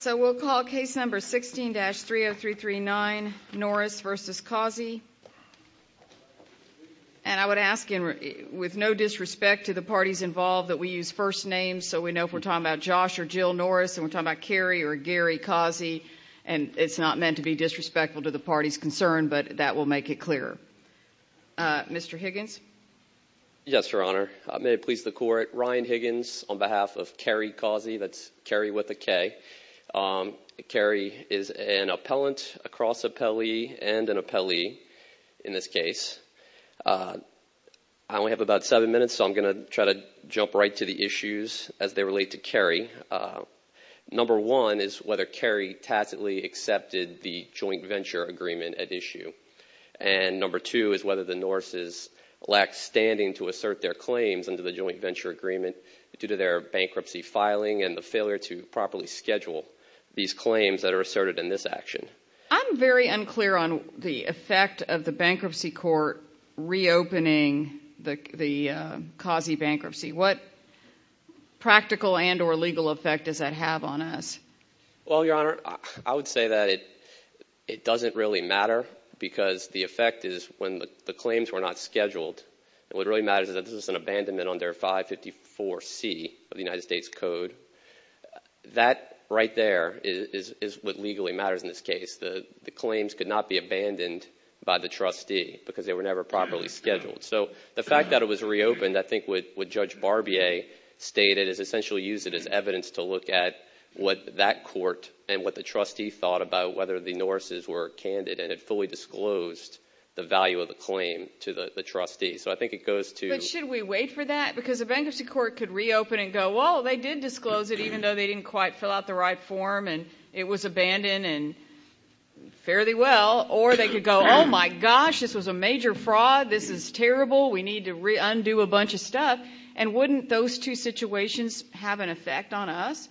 So we'll call case number 16-30339, Norris v. Causey. And I would ask, with no disrespect to the parties involved, that we use first names so we know if we're talking about Josh or Jill Norris, and we're talking about Garry or Garry Causey. And it's not meant to be disrespectful to the party's concern, but that will make it clearer. Mr. Higgins? Yes, Your Honor. May it please the Court, Ryan Higgins on behalf of Garry Causey, that's Garry with a K. Garry is an appellant, a cross-appellee, and an appellee in this case. I only have about seven minutes, so I'm going to try to jump right to the issues as they relate to Garry. Number one is whether Garry tacitly accepted the joint venture agreement at issue. And number two is whether the Norris' lacked standing to assert their claims under the joint venture agreement due to their bankruptcy filing and the failure to properly schedule these claims that are asserted in this action. I'm very unclear on the effect of the bankruptcy court reopening the Causey bankruptcy. What practical and or legal effect does that have on us? Well, Your Honor, I would say that it doesn't really matter because the effect is when the claims were not scheduled, what really matters is that this is an abandonment under 554C of the United States Code. That right there is what legally matters in this case. The claims could not be abandoned by the trustee because they were never properly scheduled. So the fact that it was reopened, I think what Judge Barbier stated, is essentially use it as evidence to look at what that court and what the trustee thought about whether the Norris' were candid and had fully disclosed the value of the claim to the trustee. So I think it goes to— But should we wait for that? Because a bankruptcy court could reopen and go, well, they did disclose it even though they didn't quite fill out the right form and it was abandoned fairly well. Or they could go, oh my gosh, this was a major fraud. This is terrible. We need to undo a bunch of stuff. And wouldn't those two situations have an effect on us?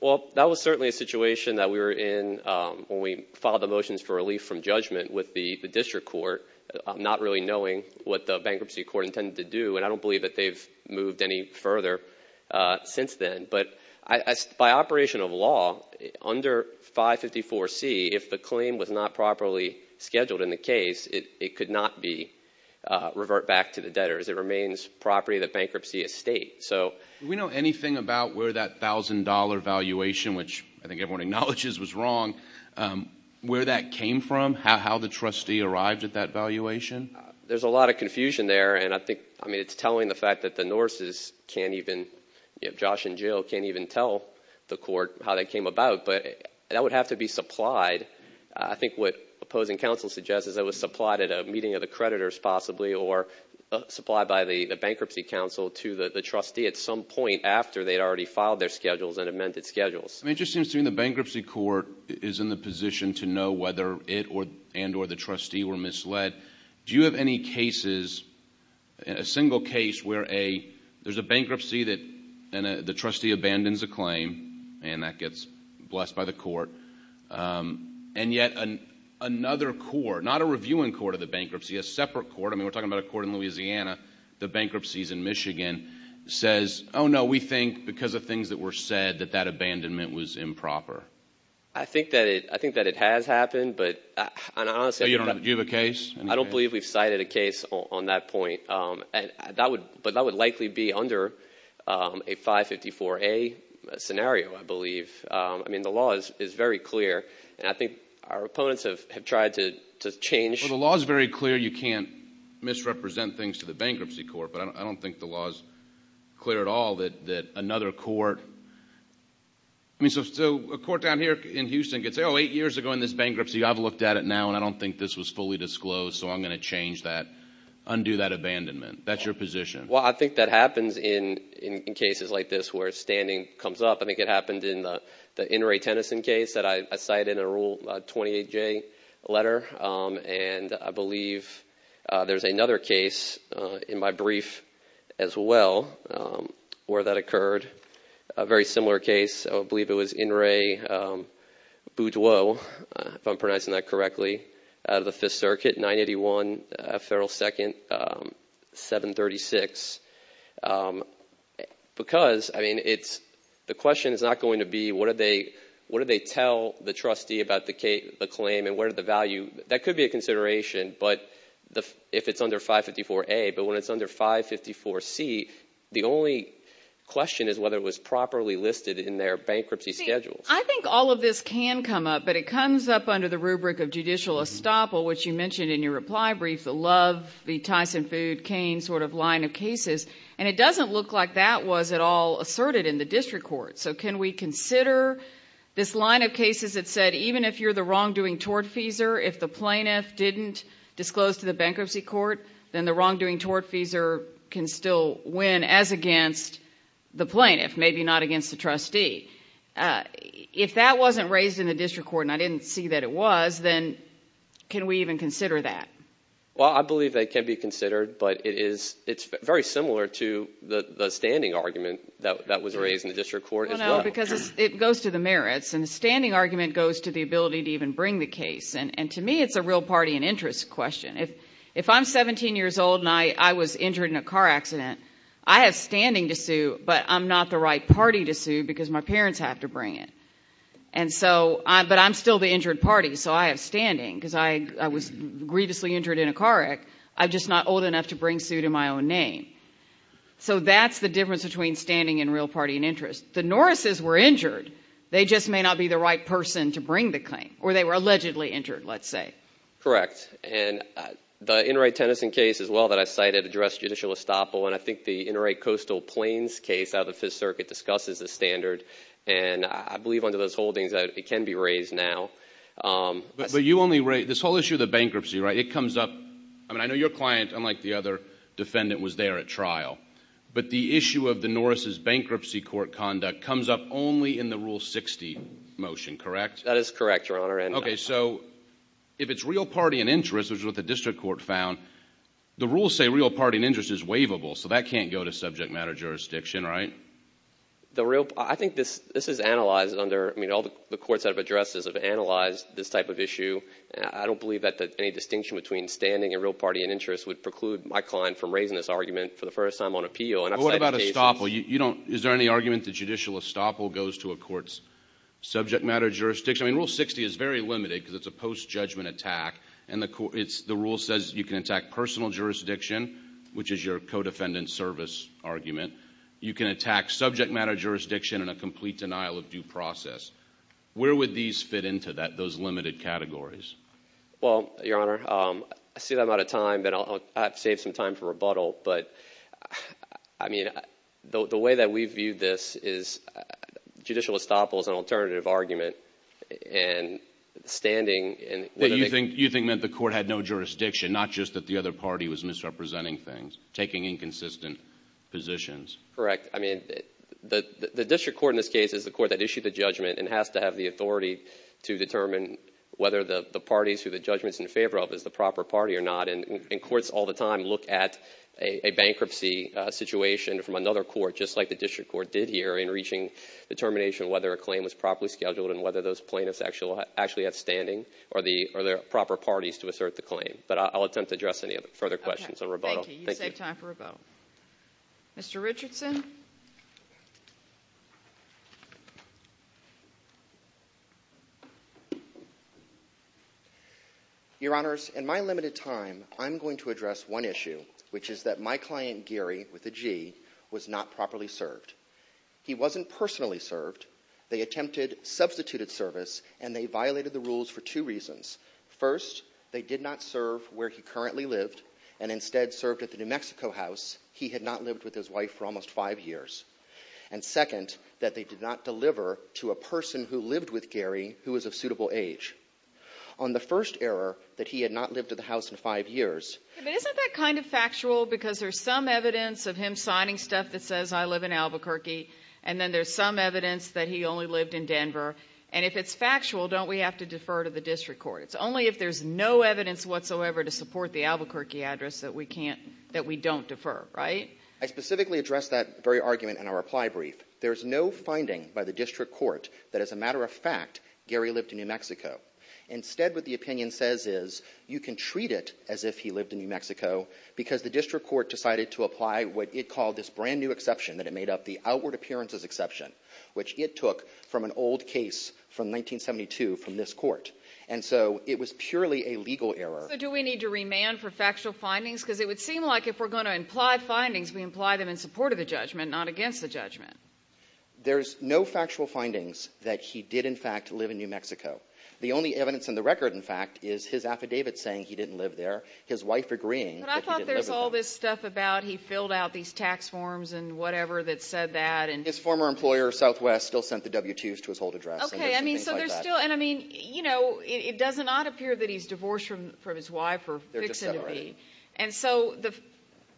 Well, that was certainly a situation that we were in when we filed the motions for relief from judgment with the district court, not really knowing what the bankruptcy court intended to do. And I don't believe that they've moved any further since then. By operation of law, under 554C, if the claim was not properly scheduled in the case, it could not revert back to the debtors. It remains property of the bankruptcy estate. Do we know anything about where that $1,000 valuation, which I think everyone acknowledges was wrong, where that came from? How the trustee arrived at that valuation? There's a lot of confusion there, and I think, I mean, it's telling the fact that the Norses can't even, Josh and Jill can't even tell the court how that came about. But that would have to be supplied. I think what opposing counsel suggests is it was supplied at a meeting of the creditors possibly or supplied by the bankruptcy counsel to the trustee at some point after they'd already filed their schedules and amended schedules. I mean, it just seems to me the bankruptcy court is in the position to know whether it and or the trustee were misled. Do you have any cases, a single case, where there's a bankruptcy and the trustee abandons a claim, and that gets blessed by the court, and yet another court, not a reviewing court of the bankruptcy, a separate court, I mean, we're talking about a court in Louisiana, the bankruptcies in Michigan, says, oh, no, we think because of things that were said that that abandonment was improper. I think that it has happened, but I don't believe we've cited a case on that point. But that would likely be under a 554A scenario, I believe. I mean, the law is very clear, and I think our opponents have tried to change. Well, the law is very clear. You can't misrepresent things to the bankruptcy court, but I don't think the law is clear at all that another court – I mean, so a court down here in Houston could say, oh, eight years ago in this bankruptcy, I've looked at it now, and I don't think this was fully disclosed, so I'm going to change that, undo that abandonment. That's your position. Well, I think that happens in cases like this where standing comes up. I think it happened in the Inouye Tennyson case that I cited in a Rule 28J letter, and I believe there's another case in my brief as well where that occurred, a very similar case. I believe it was Inouye Boudreaux, if I'm pronouncing that correctly, out of the Fifth Circuit, 981 Federal 2nd, 736. Because, I mean, the question is not going to be what do they tell the trustee about the claim and what are the value – that could be a consideration if it's under 554A, but when it's under 554C, the only question is whether it was properly listed in their bankruptcy schedule. See, I think all of this can come up, but it comes up under the rubric of judicial estoppel, which you mentioned in your reply brief, the Love, the Tyson Food, Cain sort of line of cases, and it doesn't look like that was at all asserted in the district court. So can we consider this line of cases that said even if you're the wrongdoing tortfeasor, if the plaintiff didn't disclose to the bankruptcy court, then the wrongdoing tortfeasor can still win as against the plaintiff, maybe not against the trustee. If that wasn't raised in the district court and I didn't see that it was, then can we even consider that? Well, I believe they can be considered, but it's very similar to the standing argument that was raised in the district court as well. Well, no, because it goes to the merits, and the standing argument goes to the ability to even bring the case, and to me it's a real party and interest question. If I'm 17 years old and I was injured in a car accident, I have standing to sue, but I'm not the right party to sue because my parents have to bring it, but I'm still the injured party, so I have standing because I was grievously injured in a car accident. I'm just not old enough to bring suit in my own name. So that's the difference between standing and real party and interest. The Norrises were injured. They just may not be the right person to bring the claim, or they were allegedly injured, let's say. Correct, and the Enright Tennyson case as well that I cited addressed judicial estoppel, and I think the Enright Coastal Plains case out of the Fifth Circuit discusses the standard, and I believe under those holdings it can be raised now. But you only raised this whole issue of the bankruptcy, right? It comes up. I mean, I know your client, unlike the other defendant, was there at trial, but the issue of the Norrises' bankruptcy court conduct comes up only in the Rule 60 motion, correct? That is correct, Your Honor. Okay, so if it's real party and interest, which is what the district court found, the rules say real party and interest is waivable, so that can't go to subject matter jurisdiction, right? I think this is analyzed under, I mean, all the courts that have addressed this have analyzed this type of issue. I don't believe that any distinction between standing and real party and interest would preclude my client from raising this argument for the first time on appeal. But what about estoppel? Is there any argument that judicial estoppel goes to a court's subject matter jurisdiction? I mean, Rule 60 is very limited because it's a post-judgment attack, and the rule says you can attack personal jurisdiction, which is your co-defendant service argument. You can attack subject matter jurisdiction in a complete denial of due process. Where would these fit into those limited categories? Well, Your Honor, I see that I'm out of time, but I'll save some time for rebuttal. But, I mean, the way that we've viewed this is judicial estoppel is an alternative argument, and standing and— You think that the court had no jurisdiction, not just that the other party was misrepresenting things, taking inconsistent positions. Correct. I mean, the district court in this case is the court that issued the judgment and has to have the authority to determine whether the parties who the judgment is in favor of is the proper party or not. And courts all the time look at a bankruptcy situation from another court, just like the district court did here, in reaching determination whether a claim was properly scheduled and whether those plaintiffs actually had standing or the proper parties to assert the claim. But I'll attempt to address any further questions on rebuttal. Thank you. You saved time for rebuttal. Mr. Richardson? Your Honors, in my limited time, I'm going to address one issue, which is that my client, Gary, with a G, was not properly served. He wasn't personally served. They attempted substituted service, and they violated the rules for two reasons. First, they did not serve where he currently lived and instead served at the New Mexico house he had not lived with his wife for almost five years. And second, that they did not deliver to a person who lived with Gary who was of suitable age. On the first error, that he had not lived at the house in five years— and then there's some evidence that he only lived in Denver. And if it's factual, don't we have to defer to the district court? It's only if there's no evidence whatsoever to support the Albuquerque address that we don't defer, right? I specifically addressed that very argument in our reply brief. There's no finding by the district court that, as a matter of fact, Gary lived in New Mexico. Instead, what the opinion says is you can treat it as if he lived in New Mexico because the district court decided to apply what it called this brand-new exception that it made up, the outward appearances exception, which it took from an old case from 1972 from this court. And so it was purely a legal error. So do we need to remand for factual findings? Because it would seem like if we're going to imply findings, we imply them in support of the judgment, not against the judgment. There's no factual findings that he did, in fact, live in New Mexico. The only evidence in the record, in fact, is his affidavit saying he didn't live there, his wife agreeing that he didn't live in New Mexico. But I thought there was all this stuff about he filled out these tax forms and whatever that said that. His former employer, Southwest, still sent the W-2s to his hold address. Okay. I mean, so there's still—and I mean, you know, it does not appear that he's divorced from his wife or fixing to be. And so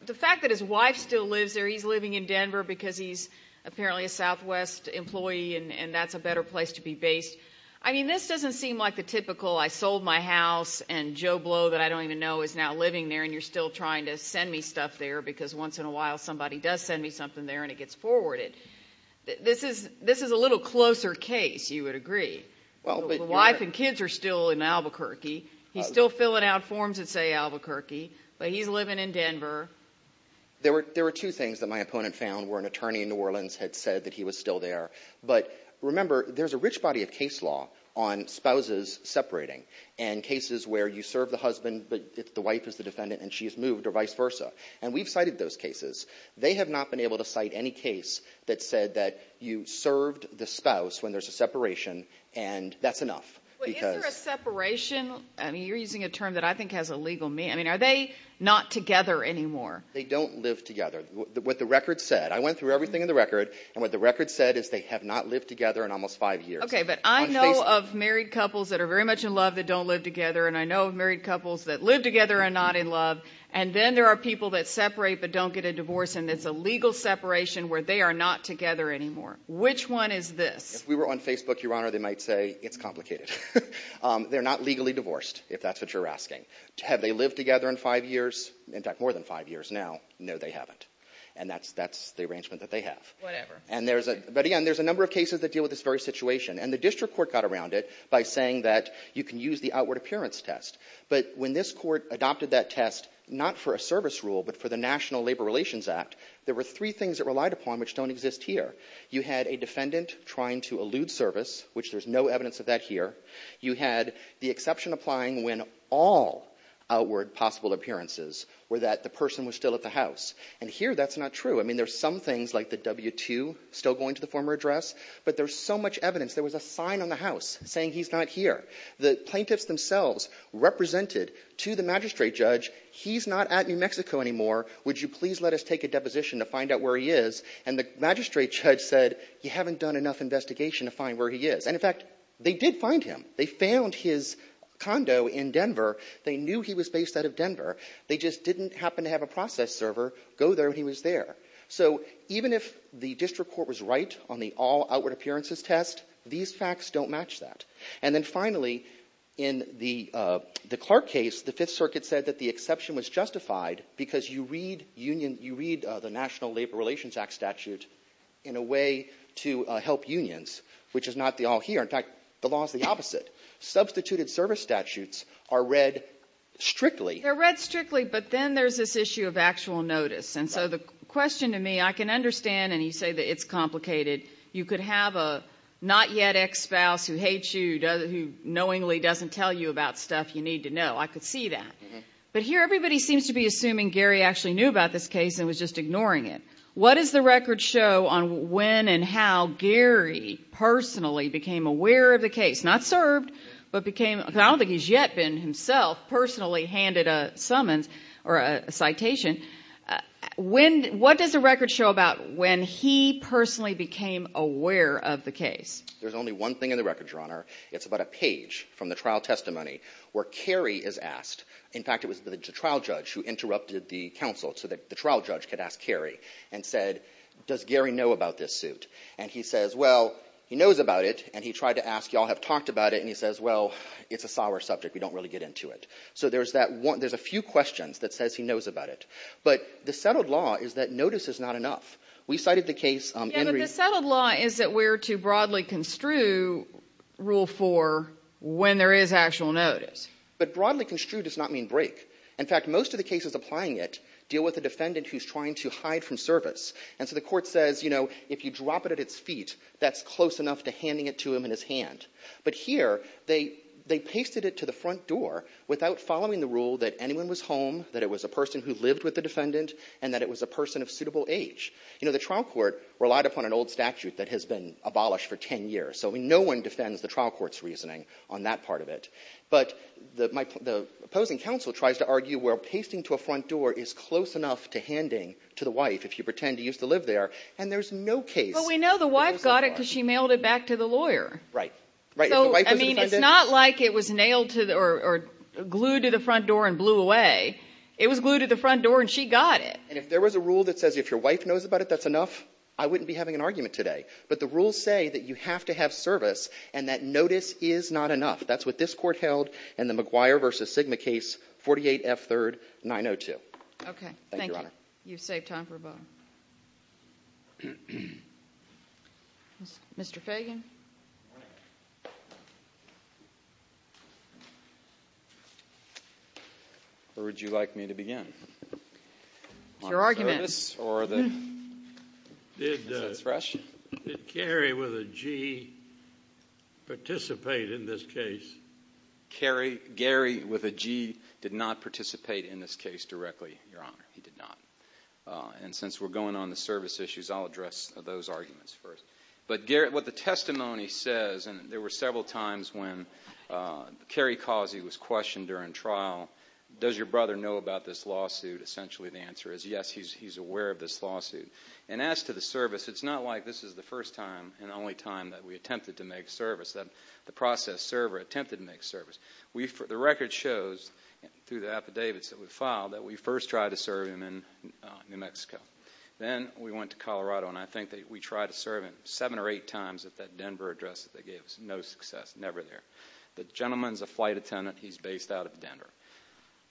the fact that his wife still lives there, he's living in Denver because he's apparently a Southwest employee and that's a better place to be based. I mean, this doesn't seem like the typical I sold my house and Joe Blow that I don't even know is now living there and you're still trying to send me stuff there because once in a while somebody does send me something there and it gets forwarded. This is a little closer case, you would agree. The wife and kids are still in Albuquerque. He's still filling out forms that say Albuquerque, but he's living in Denver. There were two things that my opponent found where an attorney in New Orleans had said that he was still there. But remember, there's a rich body of case law on spouses separating and cases where you serve the husband but the wife is the defendant and she's moved or vice versa. And we've cited those cases. They have not been able to cite any case that said that you served the spouse when there's a separation and that's enough. Is there a separation? I mean, you're using a term that I think has a legal meaning. I mean, are they not together anymore? They don't live together. What the record said, I went through everything in the record, and what the record said is they have not lived together in almost five years. Okay, but I know of married couples that are very much in love that don't live together, and I know of married couples that live together and are not in love, and then there are people that separate but don't get a divorce, and it's a legal separation where they are not together anymore. Which one is this? If we were on Facebook, Your Honor, they might say it's complicated. They're not legally divorced, if that's what you're asking. Have they lived together in five years? In fact, more than five years now. No, they haven't. And that's the arrangement that they have. Whatever. But, again, there's a number of cases that deal with this very situation, and the district court got around it by saying that you can use the outward appearance test. But when this court adopted that test, not for a service rule, but for the National Labor Relations Act, there were three things it relied upon which don't exist here. You had a defendant trying to elude service, which there's no evidence of that here. You had the exception applying when all outward possible appearances were that the person was still at the house. And here that's not true. I mean, there's some things like the W-2 still going to the former address, but there's so much evidence. There was a sign on the house saying he's not here. The plaintiffs themselves represented to the magistrate judge, he's not at New Mexico anymore. Would you please let us take a deposition to find out where he is? And the magistrate judge said, you haven't done enough investigation to find where he is. And, in fact, they did find him. They found his condo in Denver. They knew he was based out of Denver. They just didn't happen to have a process server go there when he was there. So even if the district court was right on the all outward appearances test, these facts don't match that. And then, finally, in the Clark case, the Fifth Circuit said that the exception was justified because you read the National Labor Relations Act statute in a way to help unions, which is not the all here. In fact, the law is the opposite. Substituted service statutes are read strictly. They're read strictly, but then there's this issue of actual notice. And so the question to me, I can understand, and you say that it's complicated. You could have a not yet ex-spouse who hates you, who knowingly doesn't tell you about stuff you need to know. I could see that. But here everybody seems to be assuming Gary actually knew about this case and was just ignoring it. What does the record show on when and how Gary personally became aware of the case? I don't think he's yet been himself personally handed a summons or a citation. What does the record show about when he personally became aware of the case? There's only one thing in the record, Your Honor. It's about a page from the trial testimony where Cary is asked. In fact, it was the trial judge who interrupted the counsel so that the trial judge could ask Cary and said, does Gary know about this suit? And he says, well, he knows about it, and he tried to ask, y'all have talked about it, and he says, well, it's a sour subject. We don't really get into it. So there's a few questions that says he knows about it. But the settled law is that notice is not enough. We cited the case. Yeah, but the settled law is that we're to broadly construe Rule 4 when there is actual notice. But broadly construe does not mean break. In fact, most of the cases applying it deal with a defendant who's trying to hide from service. And so the court says, you know, if you drop it at its feet, that's close enough to handing it to him in his hand. But here they pasted it to the front door without following the rule that anyone was home, that it was a person who lived with the defendant, and that it was a person of suitable age. You know, the trial court relied upon an old statute that has been abolished for 10 years. So no one defends the trial court's reasoning on that part of it. But the opposing counsel tries to argue where pasting to a front door is close enough to handing to the wife if you pretend he used to live there, and there's no case. But we know the wife got it because she mailed it back to the lawyer. Right. Right. I mean, it's not like it was nailed to or glued to the front door and blew away. It was glued to the front door, and she got it. And if there was a rule that says if your wife knows about it, that's enough, I wouldn't be having an argument today. But the rules say that you have to have service, and that notice is not enough. That's what this court held in the McGuire v. Sigma case, 48F 3rd, 902. Okay. Thank you. Thank you, Your Honor. You've saved time for both. Thank you, Your Honor. Mr. Fagan. Where would you like me to begin? Your argument. Is that fresh? Did Gary with a G participate in this case? Gary with a G did not participate in this case directly, Your Honor. He did not. And since we're going on the service issues, I'll address those arguments first. But what the testimony says, and there were several times when Kerry Causey was questioned during trial, does your brother know about this lawsuit? Essentially the answer is yes, he's aware of this lawsuit. And as to the service, it's not like this is the first time and only time that we attempted to make service, that the process server attempted to make service. The record shows through the affidavits that we filed that we first tried to serve him in New Mexico. Then we went to Colorado, and I think that we tried to serve him seven or eight times at that Denver address that they gave us. No success. Never there. The gentleman's a flight attendant. He's based out of Denver.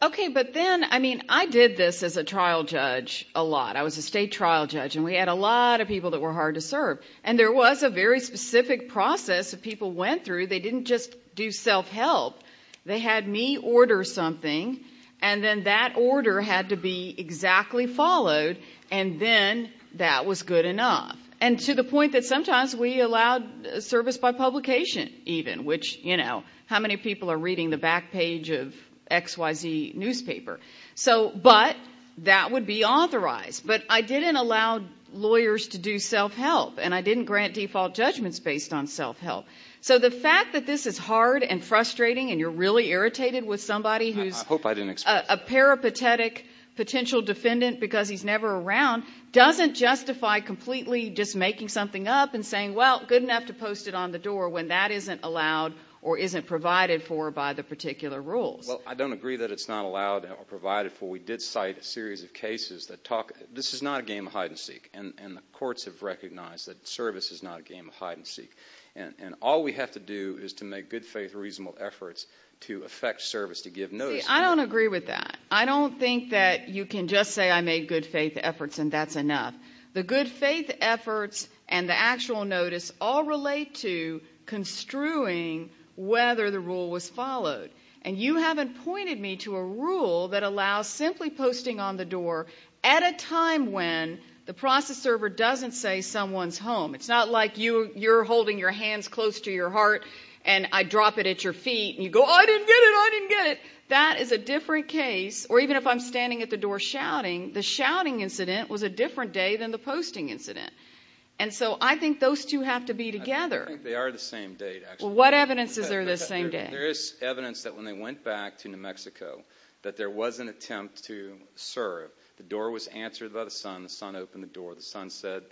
Okay, but then, I mean, I did this as a trial judge a lot. I was a state trial judge, and we had a lot of people that were hard to serve. And there was a very specific process that people went through. They didn't just do self-help. They had me order something, and then that order had to be exactly followed, and then that was good enough. And to the point that sometimes we allowed service by publication even, which, you know, how many people are reading the back page of XYZ newspaper? But that would be authorized. But I didn't allow lawyers to do self-help, and I didn't grant default judgments based on self-help. So the fact that this is hard and frustrating and you're really irritated with somebody who's a peripatetic potential defendant because he's never around doesn't justify completely just making something up and saying, well, good enough to post it on the door when that isn't allowed or isn't provided for by the particular rules. Well, I don't agree that it's not allowed or provided for. We did cite a series of cases that talk. This is not a game of hide-and-seek, and the courts have recognized that service is not a game of hide-and-seek. And all we have to do is to make good faith, reasonable efforts to affect service, to give notice. See, I don't agree with that. I don't think that you can just say I made good faith efforts and that's enough. The good faith efforts and the actual notice all relate to construing whether the rule was followed. And you haven't pointed me to a rule that allows simply posting on the door at a time when the process server doesn't say someone's home. It's not like you're holding your hands close to your heart and I drop it at your feet and you go, oh, I didn't get it, I didn't get it. That is a different case. Or even if I'm standing at the door shouting, the shouting incident was a different day than the posting incident. And so I think those two have to be together. I think they are the same date, actually. Well, what evidence is there of the same date? There is evidence that when they went back to New Mexico that there was an attempt to serve. The door was answered by the son. The son opened the door. The son said,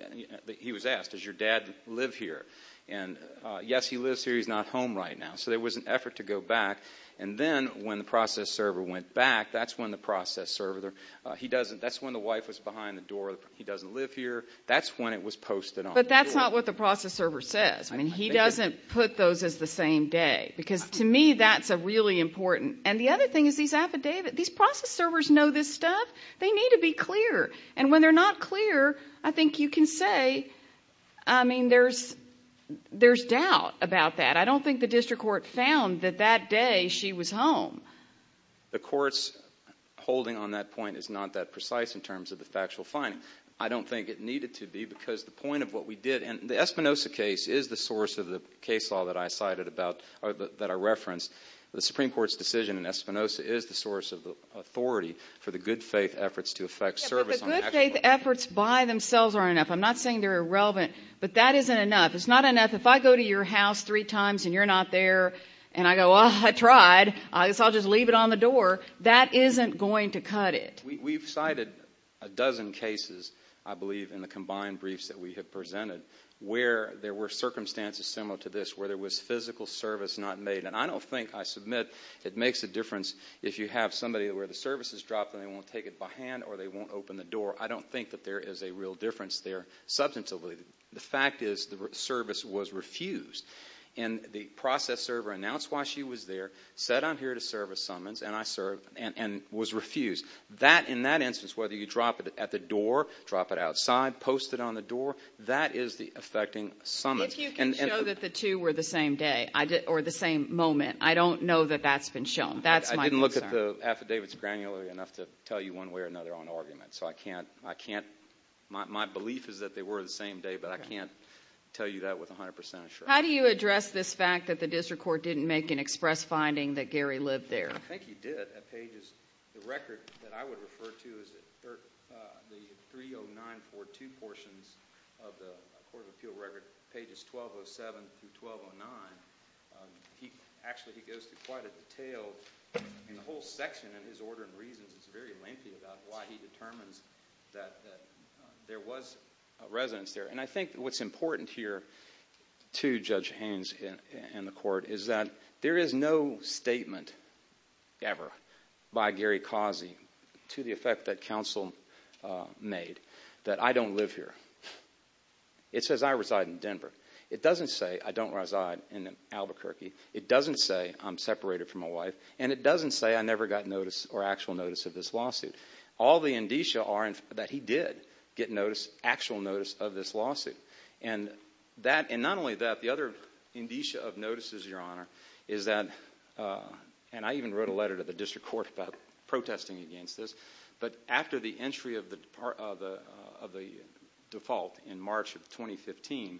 he was asked, does your dad live here? And yes, he lives here. He's not home right now. So there was an effort to go back. And then when the process server went back, that's when the process server, that's when the wife was behind the door, he doesn't live here, that's when it was posted on the door. But that's not what the process server says. I mean, he doesn't put those as the same day, because to me that's a really important. And the other thing is these process servers know this stuff. They need to be clear. And when they're not clear, I think you can say, I mean, there's doubt about that. I don't think the district court found that that day she was home. The court's holding on that point is not that precise in terms of the factual finding. I don't think it needed to be, because the point of what we did, and the Espinosa case is the source of the case law that I cited about, that I referenced. The Supreme Court's decision in Espinosa is the source of the authority for the good-faith efforts to effect service. Yeah, but the good-faith efforts by themselves aren't enough. I'm not saying they're irrelevant, but that isn't enough. It's not enough. If I go to your house three times and you're not there and I go, well, I tried, so I'll just leave it on the door, that isn't going to cut it. We've cited a dozen cases, I believe, in the combined briefs that we have presented, where there were circumstances similar to this, where there was physical service not made. And I don't think I submit it makes a difference if you have somebody where the service is dropped and they won't take it by hand or they won't open the door. I don't think that there is a real difference there substantively. The fact is the service was refused, and the process server announced why she was there, said I'm here to serve a summons, and was refused. In that instance, whether you drop it at the door, drop it outside, post it on the door, that is the effecting summons. If you can show that the two were the same day or the same moment, I don't know that that's been shown. That's my concern. I didn't look at the affidavits granularly enough to tell you one way or another on argument, so I can't. My belief is that they were the same day, but I can't tell you that with 100% assurance. How do you address this fact that the district court didn't make an express finding that Gary lived there? I think he did. The record that I would refer to is the 30942 portions of the Court of Appeal record, pages 1207 through 1209. Actually, he goes through quite a detail. The whole section in his order and reasons is very lengthy about why he determines that there was a residence there. I think what's important here to Judge Haynes and the court is that there is no statement ever by Gary Causey to the effect that counsel made that I don't live here. It says I reside in Denver. It doesn't say I don't reside in Albuquerque. It doesn't say I'm separated from my wife, and it doesn't say I never got notice or actual notice of this lawsuit. All the indicia are that he did get actual notice of this lawsuit. And not only that, the other indicia of notices, Your Honor, is that, and I even wrote a letter to the district court about protesting against this, but after the entry of the default in March of 2015,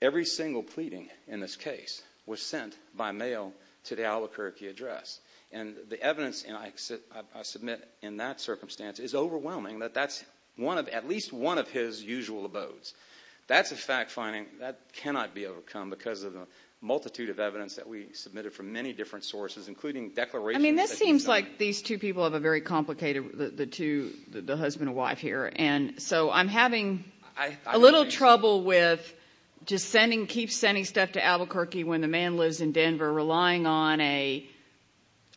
every single pleading in this case was sent by mail to the Albuquerque address. And the evidence I submit in that circumstance is overwhelming that that's at least one of his usual abodes. That's a fact finding that cannot be overcome because of the multitude of evidence that we submitted from many different sources, including declarations that he's not. I mean, this seems like these two people have a very complicated, the husband and wife here, and so I'm having a little trouble with just sending, keep sending stuff to Albuquerque when the man lives in Denver, relying on a,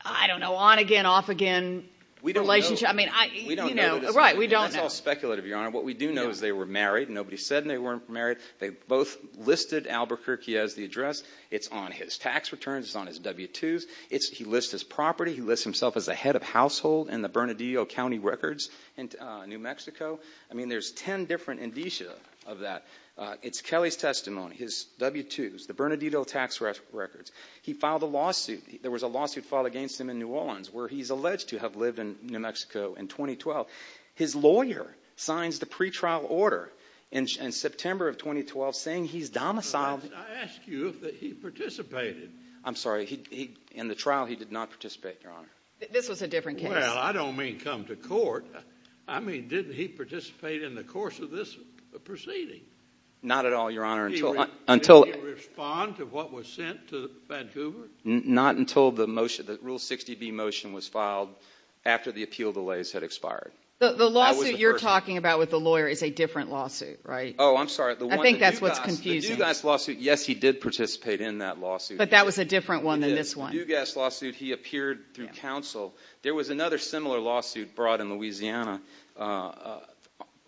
I don't know, on again, off again relationship. We don't know. Right, we don't know. That's all speculative, Your Honor. What we do know is they were married. Nobody said they weren't married. They both listed Albuquerque as the address. It's on his tax returns. It's on his W-2s. He lists his property. He lists himself as the head of household in the Bernardino County records in New Mexico. I mean, there's ten different indicia of that. It's Kelly's testimony, his W-2s, the Bernardino tax records. He filed a lawsuit. There was a lawsuit filed against him in New Orleans where he's alleged to have lived in New Mexico in 2012. His lawyer signs the pretrial order in September of 2012 saying he's domiciled. I asked you if he participated. I'm sorry. In the trial, he did not participate, Your Honor. This was a different case. Well, I don't mean come to court. I mean, did he participate in the course of this proceeding? Not at all, Your Honor. Did he respond to what was sent to Vancouver? Not until the rule 60B motion was filed after the appeal delays had expired. The lawsuit you're talking about with the lawyer is a different lawsuit, right? Oh, I'm sorry. I think that's what's confusing. The Dewgast lawsuit, yes, he did participate in that lawsuit. But that was a different one than this one. The Dewgast lawsuit, he appeared through counsel. There was another similar lawsuit brought in Louisiana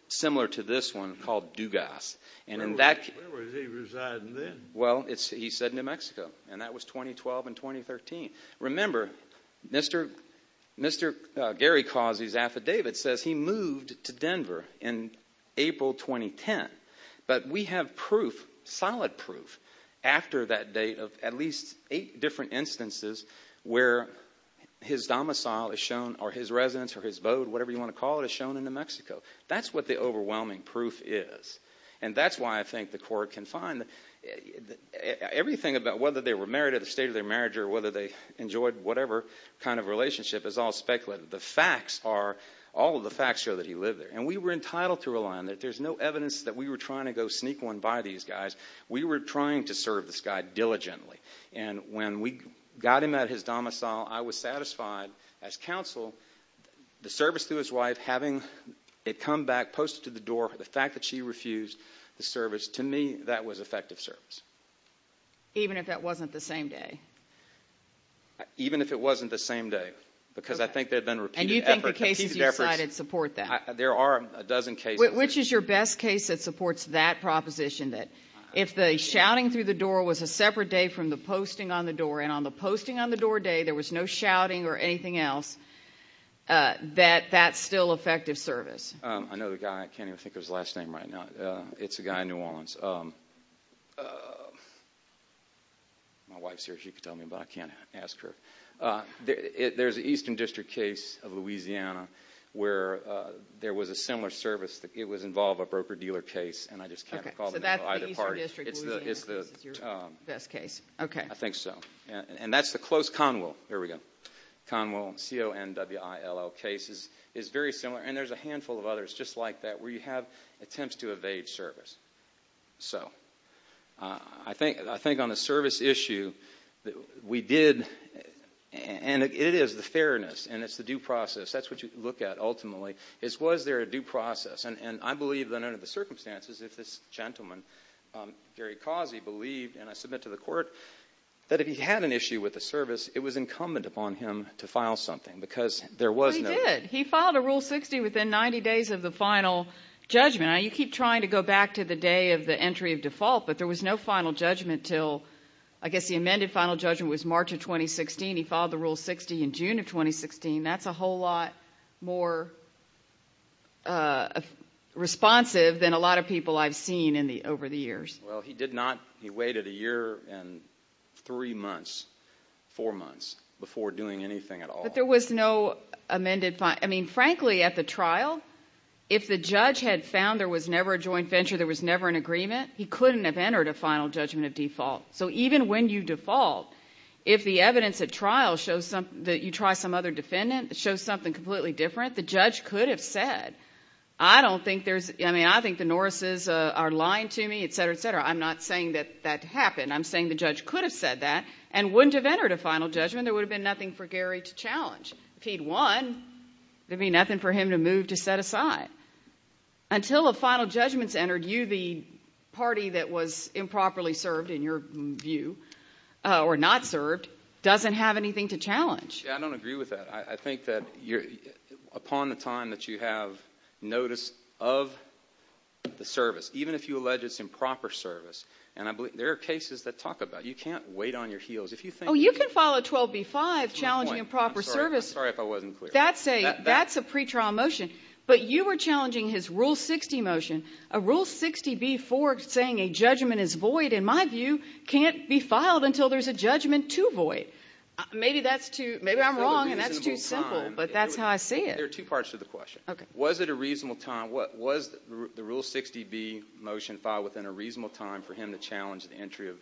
similar to this one called Dewgast. Where was he residing then? Well, he said New Mexico, and that was 2012 and 2013. Remember, Mr. Gary Causey's affidavit says he moved to Denver in April 2010. But we have proof, solid proof, after that date of at least eight different instances where his domicile is shown or his residence or his bode, whatever you want to call it, is shown in New Mexico. That's what the overwhelming proof is. And that's why I think the court can find everything about whether they were married or the state of their marriage or whether they enjoyed whatever kind of relationship is all speculated. The facts are, all of the facts show that he lived there. And we were entitled to rely on that. There's no evidence that we were trying to go sneak one by these guys. We were trying to serve this guy diligently. And when we got him at his domicile, I was satisfied as counsel. The service to his wife, having it come back, posted to the door, the fact that she refused the service, to me, that was effective service. Even if that wasn't the same day? Even if it wasn't the same day, because I think there have been repeated efforts. And you think the cases you cited support that? There are a dozen cases. Which is your best case that supports that proposition, that if the shouting through the door was a separate day from the posting on the door, and on the posting on the door day there was no shouting or anything else, that that's still effective service? I know the guy. I can't even think of his last name right now. It's a guy in New Orleans. My wife's here. She can tell me, but I can't ask her. There's an Eastern District case of Louisiana where there was a similar service. It was involved in a broker-dealer case, and I just can't recall the name of either party. So that's the Eastern District of Louisiana case is your best case. I think so. And that's the close Conwell. Conwell, C-O-N-W-I-L-L case is very similar, and there's a handful of others just like that where you have attempts to evade service. So I think on a service issue, we did, and it is the fairness, and it's the due process. That's what you look at ultimately is was there a due process. And I believe that under the circumstances, if this gentleman, Gary Causey, believed, and I submit to the court, that if he had an issue with the service, it was incumbent upon him to file something because there was no— He did. He filed a Rule 60 within 90 days of the final judgment. Now, you keep trying to go back to the day of the entry of default, but there was no final judgment until—I guess the amended final judgment was March of 2016. He filed the Rule 60 in June of 2016. That's a whole lot more responsive than a lot of people I've seen over the years. Well, he did not—he waited a year and three months, four months, before doing anything at all. But there was no amended—I mean, frankly, at the trial, if the judge had found there was never a joint venture, there was never an agreement, he couldn't have entered a final judgment of default. So even when you default, if the evidence at trial shows that you try some other defendant, it shows something completely different, the judge could have said, I don't think there's—I mean, I think the Norrises are lying to me, et cetera, et cetera. I'm not saying that that happened. I'm saying the judge could have said that and wouldn't have entered a final judgment. There would have been nothing for Gary to challenge. If he'd won, there would be nothing for him to move to set aside. Until a final judgment's entered, you, the party that was improperly served, in your view, or not served, doesn't have anything to challenge. Yeah, I don't agree with that. I think that upon the time that you have notice of the service, even if you allege it's improper service, and I believe—there are cases that talk about it. You can't wait on your heels. Oh, you can file a 12b-5 challenging improper service. I'm sorry if I wasn't clear. That's a pretrial motion. But you were challenging his Rule 60 motion. A Rule 60b-4 saying a judgment is void, in my view, can't be filed until there's a judgment to void. Maybe that's too—maybe I'm wrong and that's too simple, but that's how I see it. There are two parts to the question. Okay. Was it a reasonable time? Was the Rule 60b motion filed within a reasonable time for him to challenge the entry of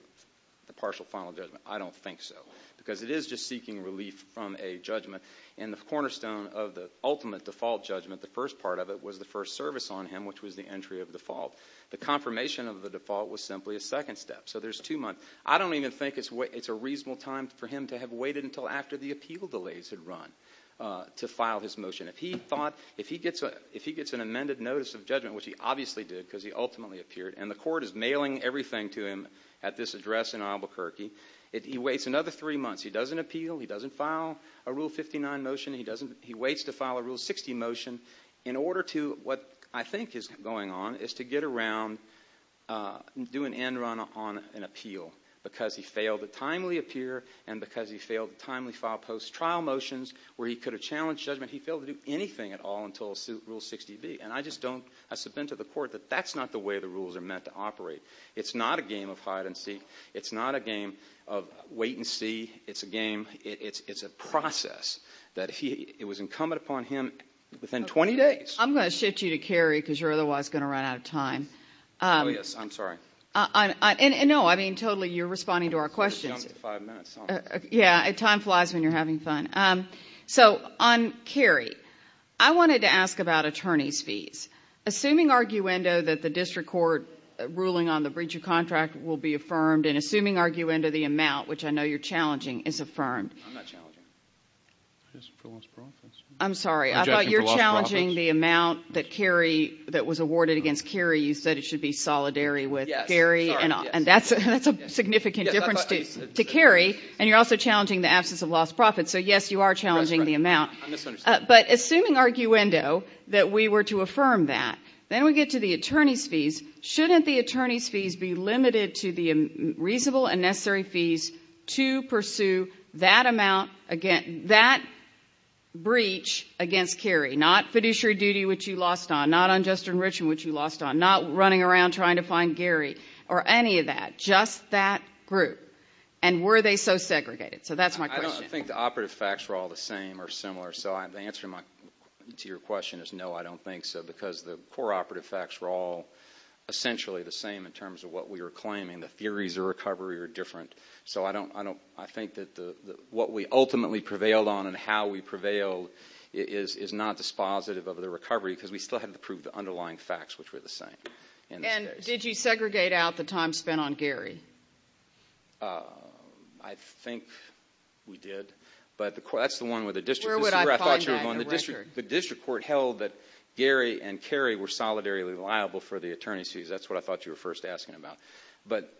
the partial final judgment? I don't think so because it is just seeking relief from a judgment, and the cornerstone of the ultimate default judgment, the first part of it, was the first service on him, which was the entry of default. The confirmation of the default was simply a second step. So there's two months. I don't even think it's a reasonable time for him to have waited until after the appeal delays had run to file his motion. If he gets an amended notice of judgment, which he obviously did because he ultimately appeared, and the court is mailing everything to him at this address in Albuquerque, he waits another three months. He doesn't appeal. He doesn't file a Rule 59 motion. He waits to file a Rule 60 motion in order to, what I think is going on, is to get around, do an end run on an appeal because he failed to timely appear and because he failed to timely file post-trial motions where he could have challenged judgment. He failed to do anything at all until Rule 60b. And I just don't, I submit to the court that that's not the way the rules are meant to operate. It's not a game of hide and seek. It's not a game of wait and see. It's a game, it's a process that he, it was incumbent upon him within 20 days. I'm going to shift you to Kerry because you're otherwise going to run out of time. Oh, yes, I'm sorry. And no, I mean, totally, you're responding to our questions. I jumped to five minutes. Yeah, time flies when you're having fun. So on Kerry, I wanted to ask about attorney's fees. Assuming arguendo that the district court ruling on the breach of contract will be affirmed and assuming arguendo the amount, which I know you're challenging, is affirmed. I'm not challenging. I'm sorry, I thought you were challenging the amount that Kerry, that was awarded against Kerry. You said it should be solidary with Kerry. And that's a significant difference to Kerry. And you're also challenging the absence of lost profits. So, yes, you are challenging the amount. But assuming arguendo that we were to affirm that, then we get to the attorney's fees. Shouldn't the attorney's fees be limited to the reasonable and necessary fees to pursue that amount, that breach against Kerry, not fiduciary duty, which you lost on, not unjust enrichment, which you lost on, not running around trying to find Gary or any of that, just that group? And were they so segregated? So that's my question. I don't think the operative facts were all the same or similar. So the answer to your question is no, I don't think so, because the core operative facts were all essentially the same in terms of what we were claiming. The theories of recovery are different. So I think that what we ultimately prevailed on and how we prevailed is not dispositive of the recovery because we still had to prove the underlying facts, which were the same. And did you segregate out the time spent on Gary? I think we did. But that's the one with the district. Where would I find that in the record? The district court held that Gary and Kerry were solidarily liable for the attorney's fees. That's what I thought you were first asking about. But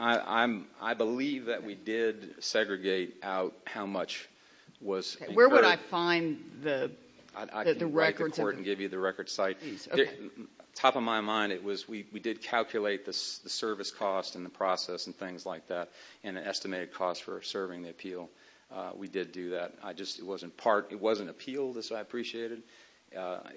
I believe that we did segregate out how much was incurred. Where would I find the records? I can write the court and give you the record site. Top of my mind, we did calculate the service cost and the process and things like that and the estimated cost for serving the appeal. We did do that. It wasn't appealed, as I appreciated. I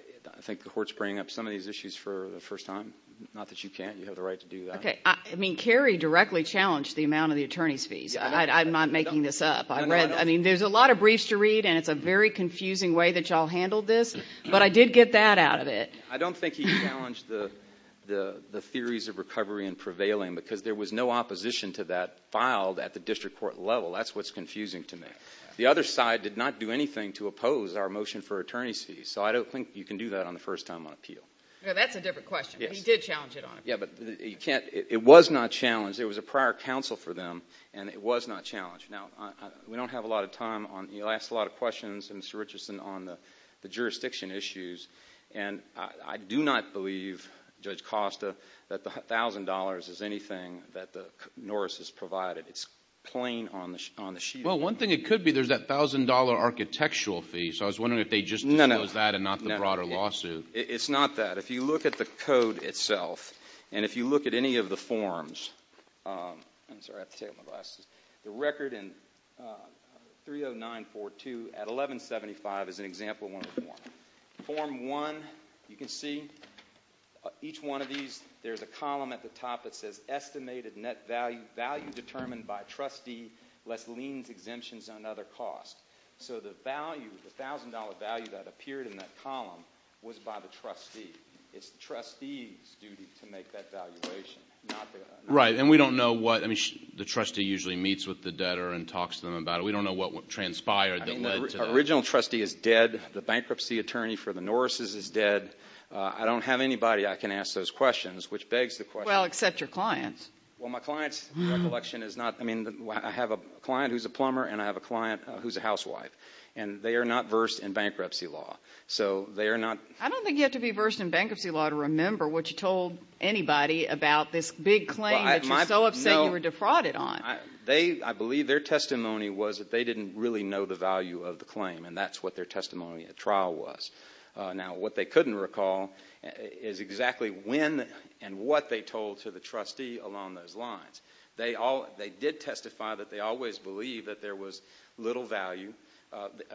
think the court's bringing up some of these issues for the first time. Not that you can't. You have the right to do that. Okay. I mean, Kerry directly challenged the amount of the attorney's fees. I'm not making this up. I mean, there's a lot of briefs to read, and it's a very confusing way that you all handled this. But I did get that out of it. I don't think he challenged the theories of recovery and prevailing because there was no opposition to that filed at the district court level. That's what's confusing to me. The other side did not do anything to oppose our motion for attorney's fees, so I don't think you can do that on the first time on appeal. That's a different question. He did challenge it on appeal. Yeah, but it was not challenged. There was a prior counsel for them, and it was not challenged. Now, we don't have a lot of time. He'll ask a lot of questions, Mr. Richardson, on the jurisdiction issues, and I do not believe, Judge Costa, that the $1,000 is anything that Norris has provided. It's plain on the sheet. Well, one thing it could be, there's that $1,000 architectural fee, so I was wondering if they just disclosed that and not the broader lawsuit. It's not that. If you look at the code itself and if you look at any of the forms, I'm sorry, I have to take off my glasses. The record in 30942 at 1175 is an example of one of the forms. Form 1, you can see each one of these. There's a column at the top that says estimated net value, value determined by trustee less liens, exemptions, and other costs. So the value, the $1,000 value that appeared in that column was by the trustee. It's the trustee's duty to make that valuation. Right, and we don't know what. I mean, the trustee usually meets with the debtor and talks to them about it. We don't know what transpired that led to that. The original trustee is dead. The bankruptcy attorney for the Norris' is dead. I don't have anybody I can ask those questions, which begs the question. Well, except your clients. Well, my client's recollection is not. I mean, I have a client who's a plumber and I have a client who's a housewife, and they are not versed in bankruptcy law, so they are not. I don't think you have to be versed in bankruptcy law to remember what you told anybody about this big claim that you're so upset you were defrauded on. I believe their testimony was that they didn't really know the value of the claim, and that's what their testimony at trial was. Now, what they couldn't recall is exactly when and what they told to the trustee along those lines. They did testify that they always believed that there was little value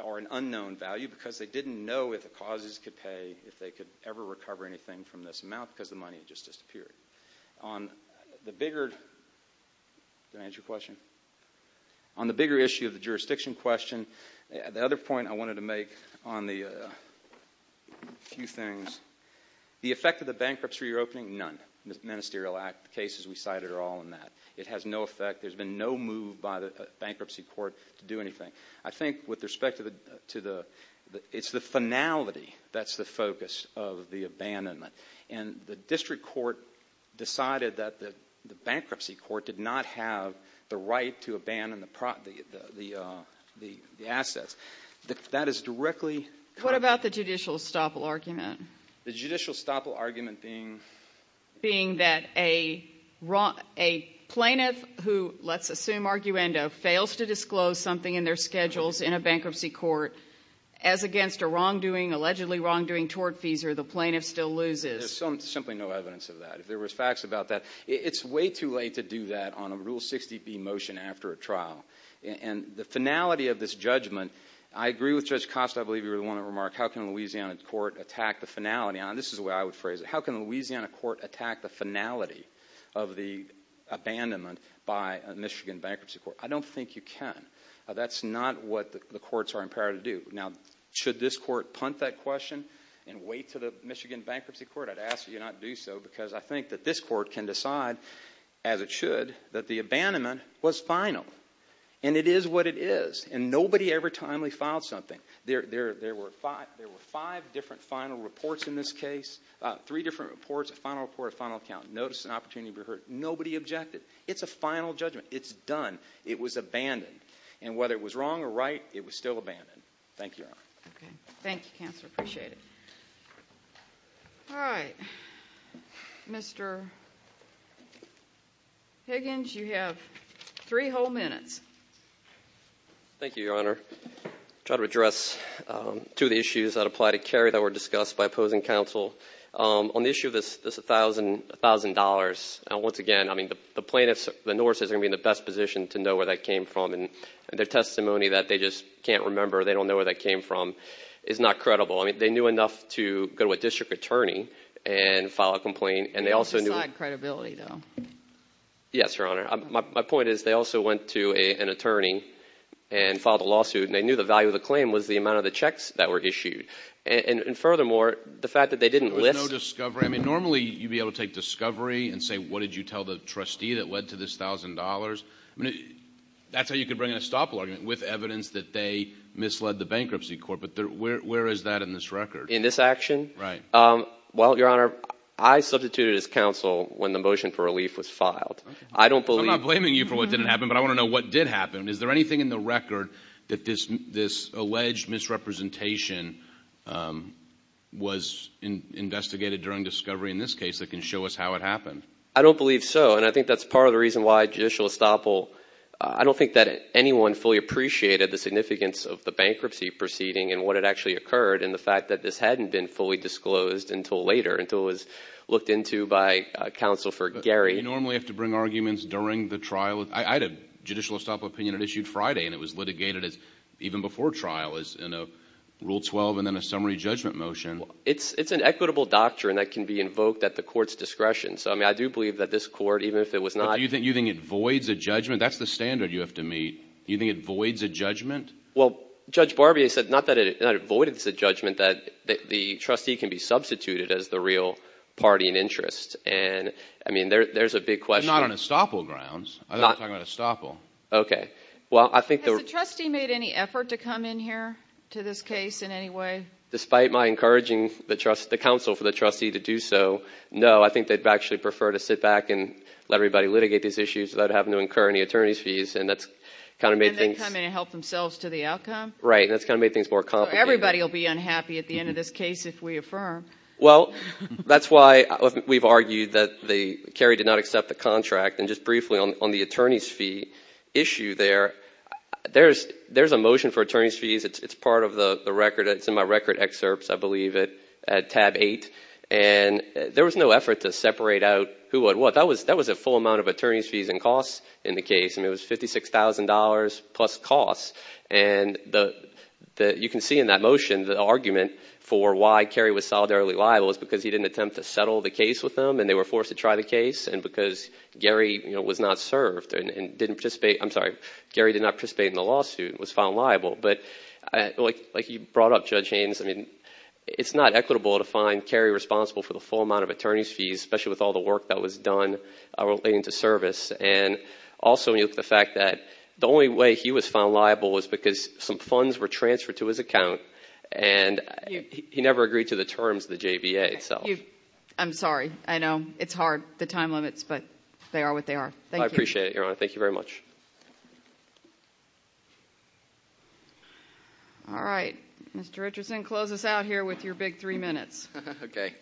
or an unknown value because they didn't know if the causes could pay, if they could ever recover anything from this amount because the money just disappeared. On the bigger issue of the jurisdiction question, the other point I wanted to make on the few things, the effect of the bankruptcy reopening, none. The Ministerial Act cases we cited are all in that. It has no effect. There's been no move by the bankruptcy court to do anything. I think with respect to the, it's the finality that's the focus of the abandonment. And the district court decided that the bankruptcy court did not have the right to abandon the assets. That is directly. What about the judicial estoppel argument? The judicial estoppel argument being? Being that a plaintiff who, let's assume arguendo, fails to disclose something in their schedules in a bankruptcy court, as against a wrongdoing, allegedly wrongdoing, tortfeasor, the plaintiff still loses. There's simply no evidence of that. If there was facts about that, it's way too late to do that on a Rule 60B motion after a trial. And the finality of this judgment, I agree with Judge Costa, I believe you were the one that remarked, how can a Louisiana court attack the finality? This is the way I would phrase it. How can a Louisiana court attack the finality of the abandonment by a Michigan bankruptcy court? I don't think you can. That's not what the courts are empowered to do. Now, should this court punt that question and wait to the Michigan bankruptcy court? I'd ask that you not do so because I think that this court can decide, as it should, that the abandonment was final. And it is what it is. And nobody ever timely filed something. There were five different final reports in this case, three different reports, a final report, a final account, notice and opportunity to be heard. Nobody objected. It's a final judgment. It's done. It was abandoned. And whether it was wrong or right, it was still abandoned. Thank you, Your Honor. Thank you, Counselor. I appreciate it. All right. Mr. Higgins, you have three whole minutes. Thank you, Your Honor. I'll try to address two of the issues that apply to Kerry that were discussed by opposing counsel. On the issue of this $1,000, once again, I mean, the plaintiffs, the Norse, are going to be in the best position to know where that came from. And their testimony that they just can't remember, they don't know where that came from, is not credible. I mean, they knew enough to go to a district attorney and file a complaint. And they also knew – It's beside credibility, though. Yes, Your Honor. My point is they also went to an attorney and filed a lawsuit, and they knew the value of the claim was the amount of the checks that were issued. And furthermore, the fact that they didn't list – There was no discovery. I mean, normally you'd be able to take discovery and say, what did you tell the trustee that led to this $1,000? I mean, that's how you could bring in a stop log with evidence that they misled the bankruptcy court. But where is that in this record? In this action? Well, Your Honor, I substituted as counsel when the motion for relief was filed. I don't believe – I'm not blaming you for what didn't happen, but I want to know what did happen. Is there anything in the record that this alleged misrepresentation was investigated during discovery in this case that can show us how it happened? I don't believe so, and I think that's part of the reason why Judicial Estoppel – I don't think that anyone fully appreciated the significance of the bankruptcy proceeding and what had actually occurred and the fact that this hadn't been fully disclosed until later, until it was looked into by counsel for Gary. Do you normally have to bring arguments during the trial? I had a Judicial Estoppel opinion. It issued Friday, and it was litigated even before trial in a Rule 12 and then a summary judgment motion. It's an equitable doctrine that can be invoked at the court's discretion. So, I mean, I do believe that this court, even if it was not – Do you think it voids a judgment? That's the standard you have to meet. Do you think it voids a judgment? Well, Judge Barbier said not that it voids a judgment, that the trustee can be substituted as the real party in interest. And, I mean, there's a big question. But not on Estoppel grounds. I thought you were talking about Estoppel. Okay. Has the trustee made any effort to come in here to this case in any way? Despite my encouraging the counsel for the trustee to do so, no, I think they'd actually prefer to sit back and let everybody litigate these issues without having to incur any attorney's fees, and that's kind of made things – And then come in and help themselves to the outcome? Right, and that's kind of made things more complicated. So everybody will be unhappy at the end of this case if we affirm. Well, that's why we've argued that Kerry did not accept the contract. And just briefly on the attorney's fee issue there, there's a motion for attorney's fees. It's part of the record. It's in my record excerpts, I believe, at tab 8. And there was no effort to separate out who would what. That was a full amount of attorney's fees and costs in the case. I mean, it was $56,000 plus costs. And you can see in that motion the argument for why Kerry was solidarily liable is because he didn't attempt to settle the case with them, and they were forced to try the case, and because Gary, you know, was not served and didn't participate – I'm sorry, Gary did not participate in the lawsuit and was found liable. But like you brought up, Judge Haynes, I mean, it's not equitable to find Kerry responsible for the full amount of attorney's fees, especially with all the work that was done relating to service. And also when you look at the fact that the only way he was found liable was because some funds were transferred to his account, and he never agreed to the terms of the JBA itself. I'm sorry. I know it's hard, the time limits, but they are what they are. I appreciate it, Your Honor. Thank you very much. All right. Mr. Richardson, close us out here with your big three minutes. Okay.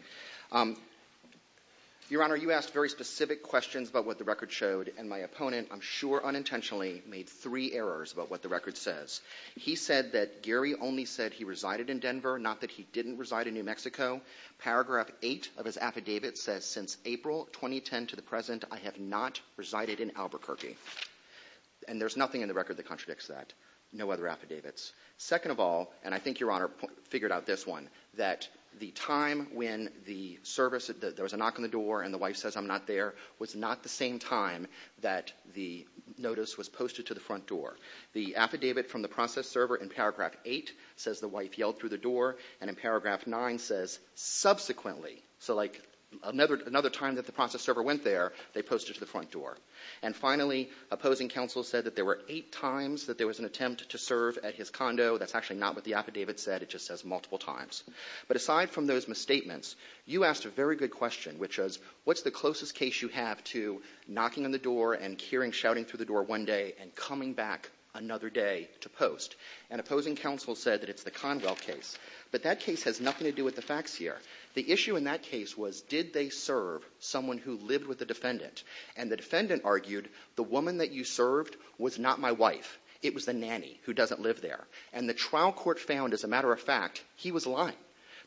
Your Honor, you asked very specific questions about what the record showed, and my opponent, I'm sure unintentionally, made three errors about what the record says. He said that Gary only said he resided in Denver, not that he didn't reside in New Mexico. Paragraph 8 of his affidavit says, Since April 2010 to the present, I have not resided in Albuquerque. And there's nothing in the record that contradicts that. No other affidavits. Second of all, and I think Your Honor figured out this one, that the time when there was a knock on the door and the wife says, I'm not there, was not the same time that the notice was posted to the front door. The affidavit from the process server in paragraph 8 says, The wife yelled through the door. And in paragraph 9 says, Subsequently. So like another time that the process server went there, they posted to the front door. And finally, opposing counsel said that there were eight times that there was an attempt to serve at his condo. That's actually not what the affidavit said. It just says multiple times. But aside from those misstatements, you asked a very good question, which was, What's the closest case you have to knocking on the door and hearing shouting through the door one day and coming back another day to post? And opposing counsel said that it's the Conwell case. But that case has nothing to do with the facts here. The issue in that case was, Did they serve someone who lived with the defendant? And the defendant argued, The woman that you served was not my wife. It was the nanny who doesn't live there. And the trial court found, as a matter of fact, he was lying.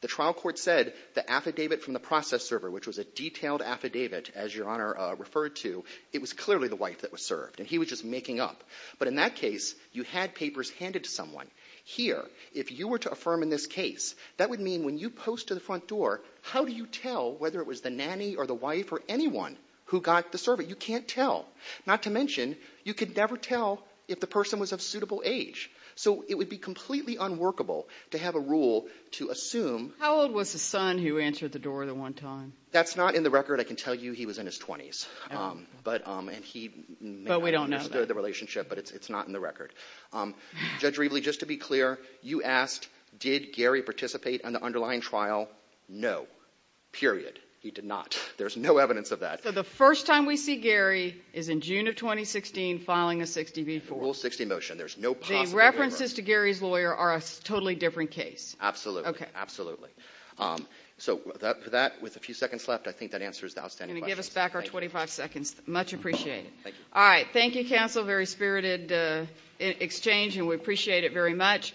The trial court said the affidavit from the process server, which was a detailed affidavit, as Your Honor referred to, it was clearly the wife that was served. And he was just making up. But in that case, you had papers handed to someone. Here, if you were to affirm in this case, that would mean when you post to the front door, how do you tell whether it was the nanny or the wife or anyone who got the service? You can't tell. Not to mention, you could never tell if the person was of suitable age. So it would be completely unworkable to have a rule to assume How old was the son who answered the door the one time? That's not in the record. I can tell you he was in his 20s. But we don't know that. He may not have understood the relationship, but it's not in the record. Judge Rievele, just to be clear, you asked, Did Gary participate in the underlying trial? No. Period. He did not. There's no evidence of that. So the first time we see Gary is in June of 2016, filing a 60 v. 4. Rule 60 motion. The references to Gary's lawyer are a totally different case. Absolutely. Absolutely. So with that, with a few seconds left, I think that answers the outstanding questions. You're going to give us back our 25 seconds. Much appreciated. Thank you. All right. Thank you, counsel. Very spirited exchange, and we appreciate it very much.